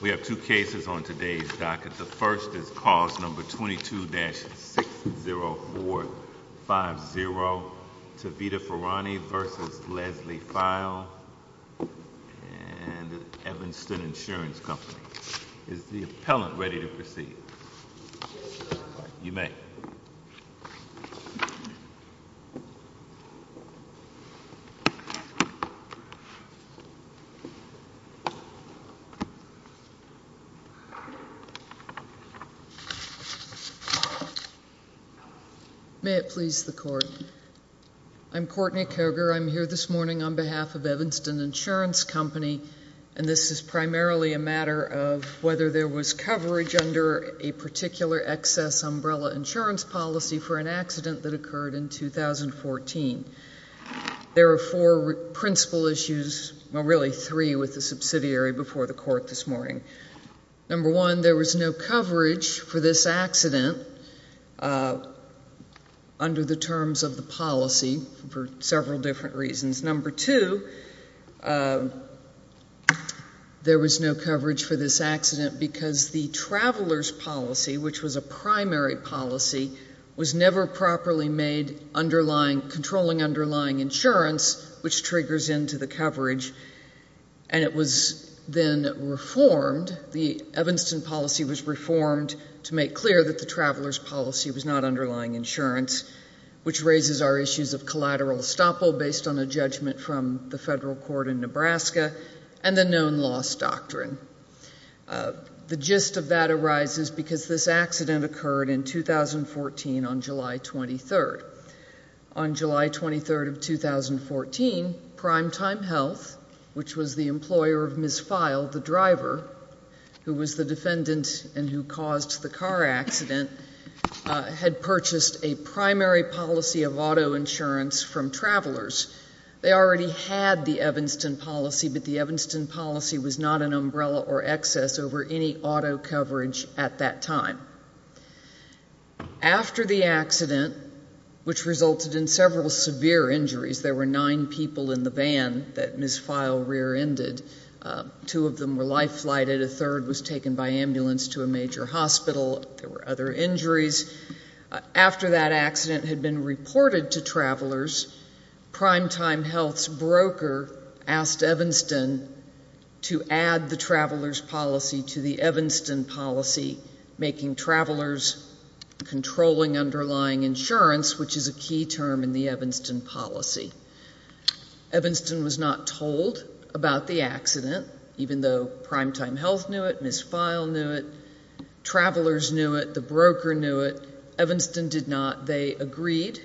We have two cases on today's docket. The first is cause number 22-60450. Tavita Farani v. Leslie File and Evanston Insurance Company. Is the appellant ready to proceed? You may. May it please the court. I'm Courtney Koger. I'm here this morning on behalf of Evanston Insurance Company. And this is primarily a matter of whether there was coverage under a particular excess umbrella insurance policy for an accident that occurred in 2014. There are four principal issues, well really three with the subsidiary before the court this morning. Number one, there was no coverage for this accident under the terms of the policy for several different reasons. Number two, there was no coverage for this accident because the traveler's policy, which was a primary policy, was never properly made controlling underlying insurance, which triggers into the coverage. And it was then reformed, the Evanston policy was reformed to make clear that the traveler's policy was not underlying insurance, which raises our issues of collateral estoppel based on a judgment from the federal court in Nebraska and the known loss doctrine. The gist of that arises because this accident occurred in 2014 on July 23rd. On July 23rd of 2014, Primetime Health, which was the employer of Ms. File, the driver, who was the defendant and who caused the car accident, had purchased a primary policy of auto insurance from travelers. They already had the Evanston policy, but the Evanston policy was not an umbrella or excess over any auto coverage at that time. After the accident, which resulted in several severe injuries, there were nine people in the van that Ms. File rear-ended. Two of them were life-flighted. A third was taken by ambulance to a major hospital. There were other injuries. After that accident had been reported to travelers, Primetime Health's broker asked Evanston to add the traveler's policy to the Evanston policy, making travelers controlling underlying insurance, which is a key term in the Evanston policy. Evanston was not told about the accident, even though Primetime Health knew it. Ms. File knew it. Travelers knew it. The broker knew it. Evanston did not. They agreed.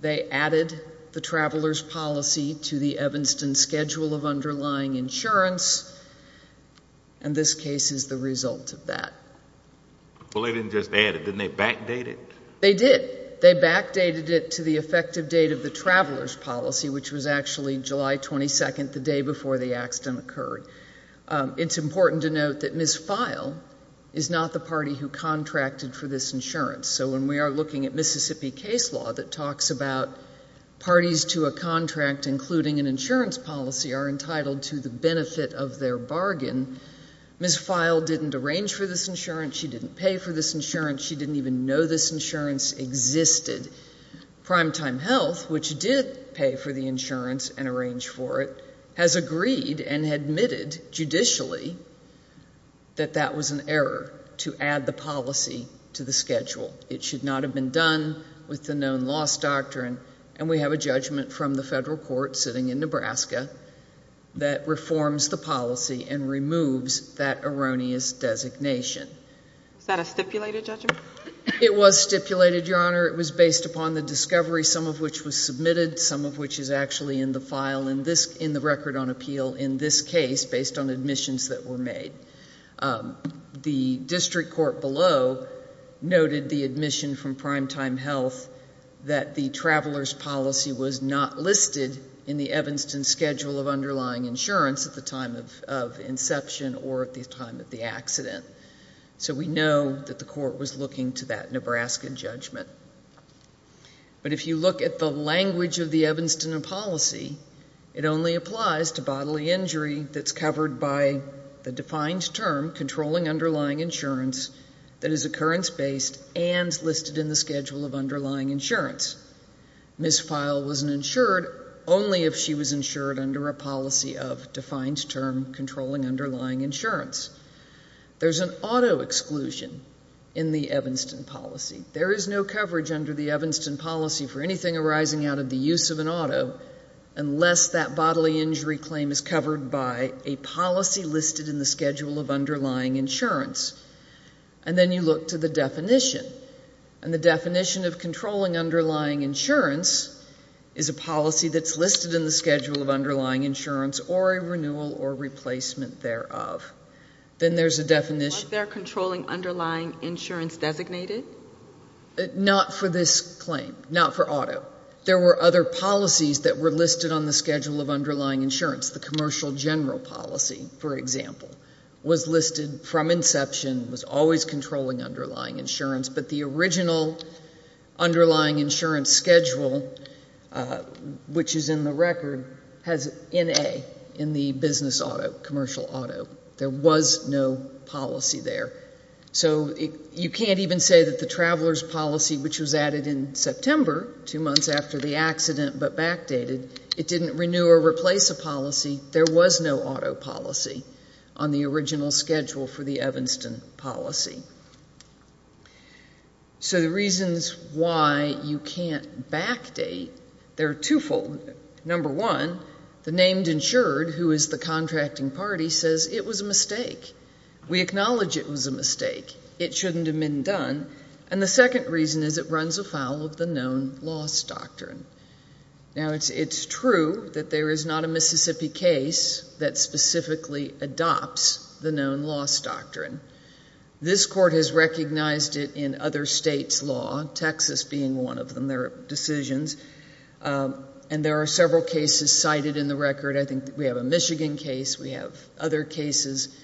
They added the traveler's policy to the Evanston schedule of underlying insurance, and this case is the result of that. Well, they didn't just add it. Didn't they backdate it? They did. They backdated it to the effective date of the traveler's policy, which was actually July 22nd, the day before the accident occurred. It's important to note that Ms. File is not the party who contracted for this insurance. So when we are looking at Mississippi case law that talks about parties to a contract including an insurance policy are entitled to the benefit of their bargain, Ms. File didn't arrange for this insurance. She didn't pay for this insurance. She didn't even know this insurance existed. Primetime Health, which did pay for the insurance and arrange for it, has agreed and admitted judicially that that was an error to add the policy to the schedule. It should not have been done with the known loss doctrine, and we have a judgment from the federal court sitting in Nebraska that reforms the policy and removes that erroneous designation. Is that a stipulated judgment? It was stipulated, Your Honor. It was based upon the discovery, some of which was submitted, some of which is actually in the file in the record on appeal in this case based on admissions that were made. The district court below noted the admission from Primetime Health that the traveler's policy was not listed in the Evanston schedule of underlying insurance at the time of inception or at the time of the accident. So we know that the court was looking to that Nebraska judgment. But if you look at the language of the Evanston policy, it only applies to bodily injury that's covered by the defined term, controlling underlying insurance, that is occurrence-based and listed in the schedule of underlying insurance. Ms. File wasn't insured only if she was insured under a policy of defined term, controlling underlying insurance. There's an auto exclusion in the Evanston policy. There is no coverage under the Evanston policy for anything arising out of the use of an auto unless that bodily injury claim is covered by a policy listed in the schedule of underlying insurance. And then you look to the definition. And the definition of controlling underlying insurance is a policy that's listed in the schedule of underlying insurance or a renewal or replacement thereof. Then there's a definition. Was there a controlling underlying insurance designated? Not for this claim. Not for auto. There were other policies that were listed on the schedule of underlying insurance. The commercial general policy, for example, was listed from inception, was always controlling underlying insurance. But the original underlying insurance schedule, which is in the record, has N.A. in the business auto, commercial auto. There was no policy there. So you can't even say that the traveler's policy, which was added in September, two months after the accident but backdated, it didn't renew or replace a policy. There was no auto policy on the original schedule for the Evanston policy. So the reasons why you can't backdate, they're twofold. Number one, the named insured, who is the contracting party, says it was a mistake. We acknowledge it was a mistake. It shouldn't have been done. And the second reason is it runs afoul of the known loss doctrine. Now, it's true that there is not a Mississippi case that specifically adopts the known loss doctrine. This court has recognized it in other states' law, Texas being one of them, their decisions. And there are several cases cited in the record. I think we have a Michigan case. We have other cases.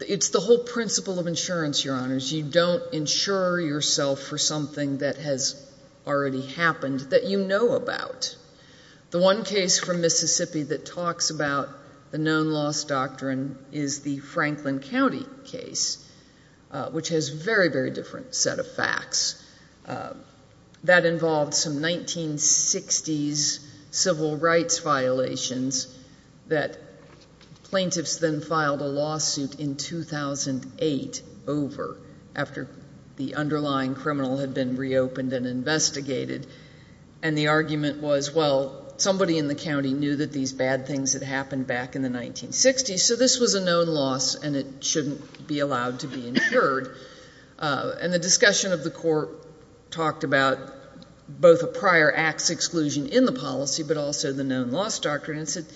It's the whole principle of insurance, Your Honors. You don't insure yourself for something that has already happened that you know about. The one case from Mississippi that talks about the known loss doctrine is the Franklin County case, which has a very, very different set of facts. That involved some 1960s civil rights violations that plaintiffs then filed a lawsuit in 2008 over, after the underlying criminal had been reopened and investigated. And the argument was, well, somebody in the county knew that these bad things had happened back in the 1960s, so this was a known loss and it shouldn't be allowed to be insured. And the discussion of the court talked about both a prior acts exclusion in the policy but also the known loss doctrine and said,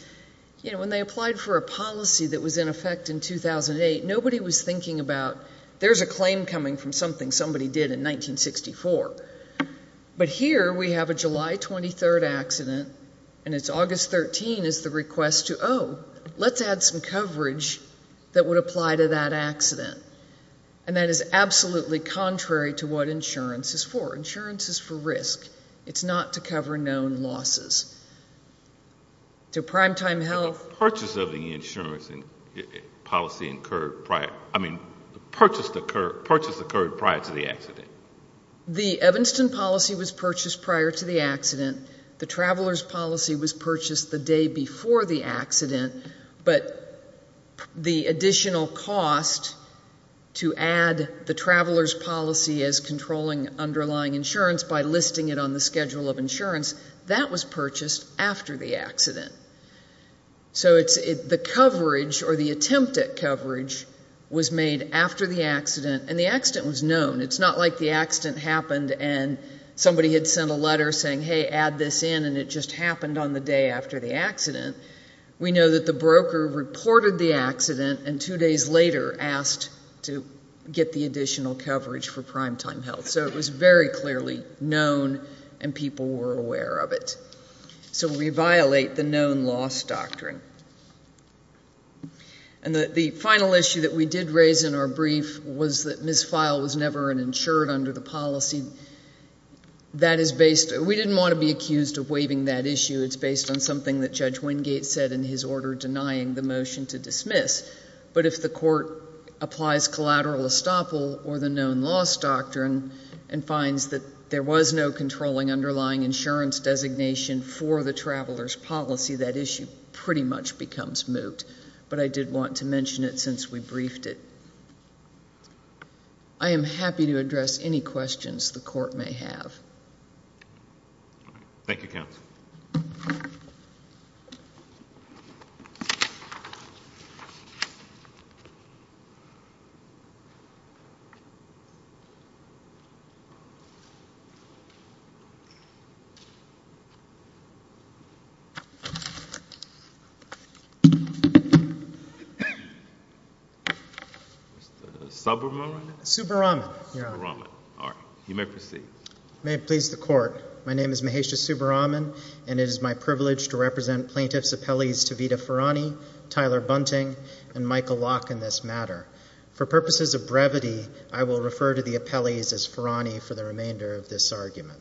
you know, when they applied for a policy that was in effect in 2008, nobody was thinking about there's a claim coming from something somebody did in 1964. But here we have a July 23 accident and it's August 13 is the request to, oh, let's add some coverage that would apply to that accident. And that is absolutely contrary to what insurance is for. Insurance is for risk. It's not to cover known losses. To primetime health. The purchase of the insurance policy occurred prior, I mean, the purchase occurred prior to the accident. The Evanston policy was purchased prior to the accident. The traveler's policy was purchased the day before the accident. But the additional cost to add the traveler's policy as controlling underlying insurance by listing it on the schedule of insurance, that was purchased after the accident. So the coverage or the attempt at coverage was made after the accident, and the accident was known. It's not like the accident happened and somebody had sent a letter saying, hey, add this in, and it just happened on the day after the accident. We know that the broker reported the accident and two days later asked to get the additional coverage for primetime health. So it was very clearly known and people were aware of it. So we violate the known loss doctrine. And the final issue that we did raise in our brief was that Ms. Feil was never an insured under the policy. That is based, we didn't want to be accused of waiving that issue. It's based on something that Judge Wingate said in his order denying the motion to dismiss. But if the court applies collateral estoppel or the known loss doctrine and finds that there was no controlling underlying insurance designation for the traveler's policy, that issue pretty much becomes moot. But I did want to mention it since we briefed it. I am happy to address any questions the court may have. Thank you, counsel. Subramanian? Subramanian, Your Honor. Subramanian. All right. You may proceed. May it please the court. My name is Mahesha Subramanian, and it is my privilege to represent plaintiffs' appellees Tavita Farhani, Tyler Bunting, and Michael Locke in this matter. For purposes of brevity, I will refer to the appellees as Farhani for the remainder of this argument.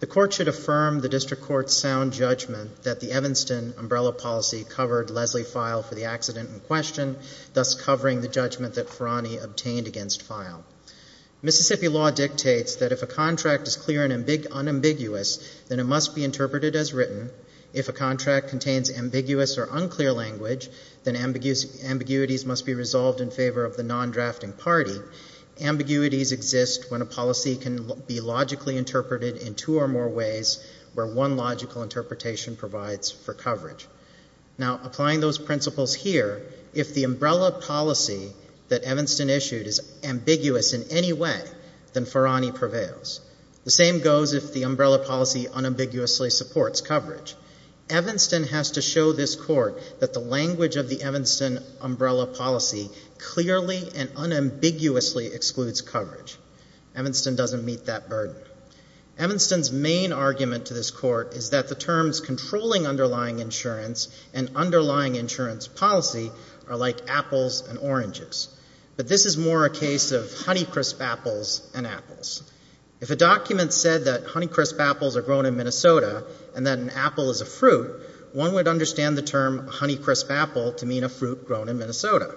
The court should affirm the district court's sound judgment that the Evanston umbrella policy covered Leslie Feil for the accident in question, thus covering the judgment that Farhani obtained against Feil. Mississippi law dictates that if a contract is clear and unambiguous, then it must be interpreted as written. If a contract contains ambiguous or unclear language, then ambiguities must be resolved in favor of the non-drafting party. Ambiguities exist when a policy can be logically interpreted in two or more ways where one logical interpretation provides for coverage. Now, applying those principles here, if the umbrella policy that Evanston issued is ambiguous in any way, then Farhani prevails. The same goes if the umbrella policy unambiguously supports coverage. Evanston has to show this court that the language of the Evanston umbrella policy clearly and unambiguously excludes coverage. Evanston doesn't meet that burden. Evanston's main argument to this court is that the terms controlling underlying insurance and underlying insurance policy are like apples and oranges. But this is more a case of honey crisp apples and apples. If a document said that honey crisp apples are grown in Minnesota and that an apple is a fruit, one would understand the term honey crisp apple to mean a fruit grown in Minnesota.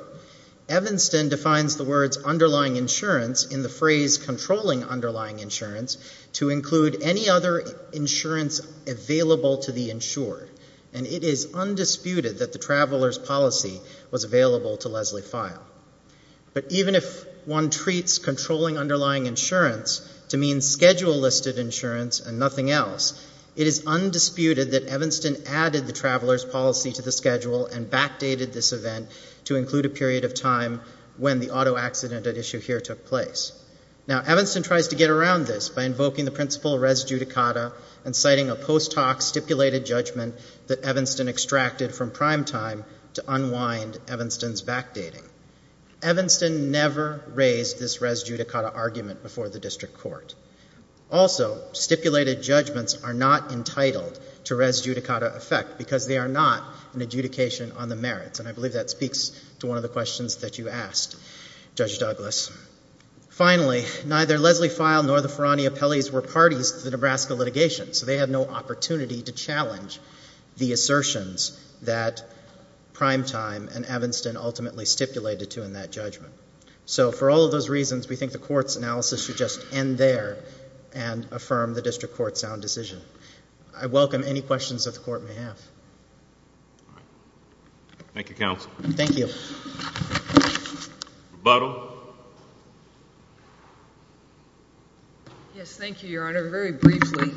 Evanston defines the words underlying insurance in the phrase controlling underlying insurance to include any other insurance available to the insured. And it is undisputed that the traveler's policy was available to Leslie File. But even if one treats controlling underlying insurance to mean schedule-listed insurance and nothing else, it is undisputed that Evanston added the traveler's policy to the schedule and backdated this event to include a period of time when the auto accident at issue here took place. Now, Evanston tries to get around this by invoking the principle res judicata and citing a post hoc stipulated judgment that Evanston extracted from primetime to unwind Evanston's backdating. Evanston never raised this res judicata argument before the district court. Also, stipulated judgments are not entitled to res judicata effect because they are not an adjudication on the merits. And I believe that speaks to one of the questions that you asked, Judge Douglas. Finally, neither Leslie File nor the Ferrani appellees were parties to the Nebraska litigation, so they had no opportunity to challenge the assertions that primetime and Evanston ultimately stipulated to in that judgment. So for all of those reasons, we think the court's analysis should just end there and affirm the district court's sound decision. I welcome any questions that the court may have. Thank you, counsel. Thank you. Rebuttal. Yes, thank you, Your Honor. Very briefly,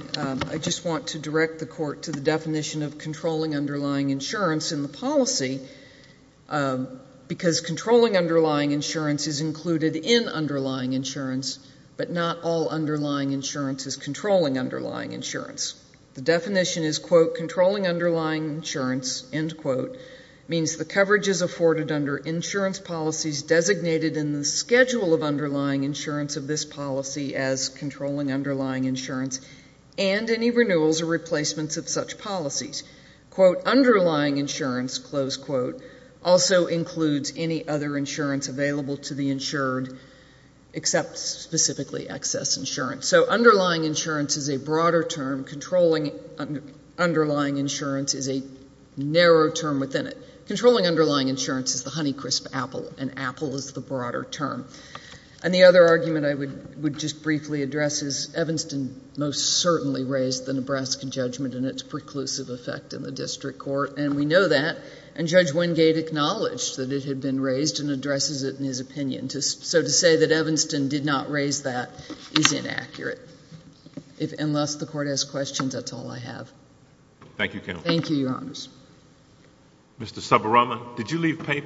I just want to direct the court to the definition of controlling underlying insurance in the policy because controlling underlying insurance is included in underlying insurance, but not all underlying insurance is controlling underlying insurance. The definition is, quote, controlling underlying insurance, end quote, means the coverage is afforded under insurance policies designated in the schedule of underlying insurance of this policy as controlling underlying insurance and any renewals or replacements of such policies. Quote, underlying insurance, close quote, also includes any other insurance available to the insured except specifically excess insurance. So underlying insurance is a broader term. Controlling underlying insurance is a narrow term within it. Controlling underlying insurance is the honey crisp apple, and apple is the broader term. And the other argument I would just briefly address is Evanston most certainly raised the Nebraska judgment and its preclusive effect in the district court, and we know that, and Judge Wingate acknowledged that it had been raised and addresses it in his opinion. So to say that Evanston did not raise that is inaccurate, unless the court has questions, that's all I have. Thank you, Counsel. Thank you, Your Honors. Mr. Saburama, did you leave paper?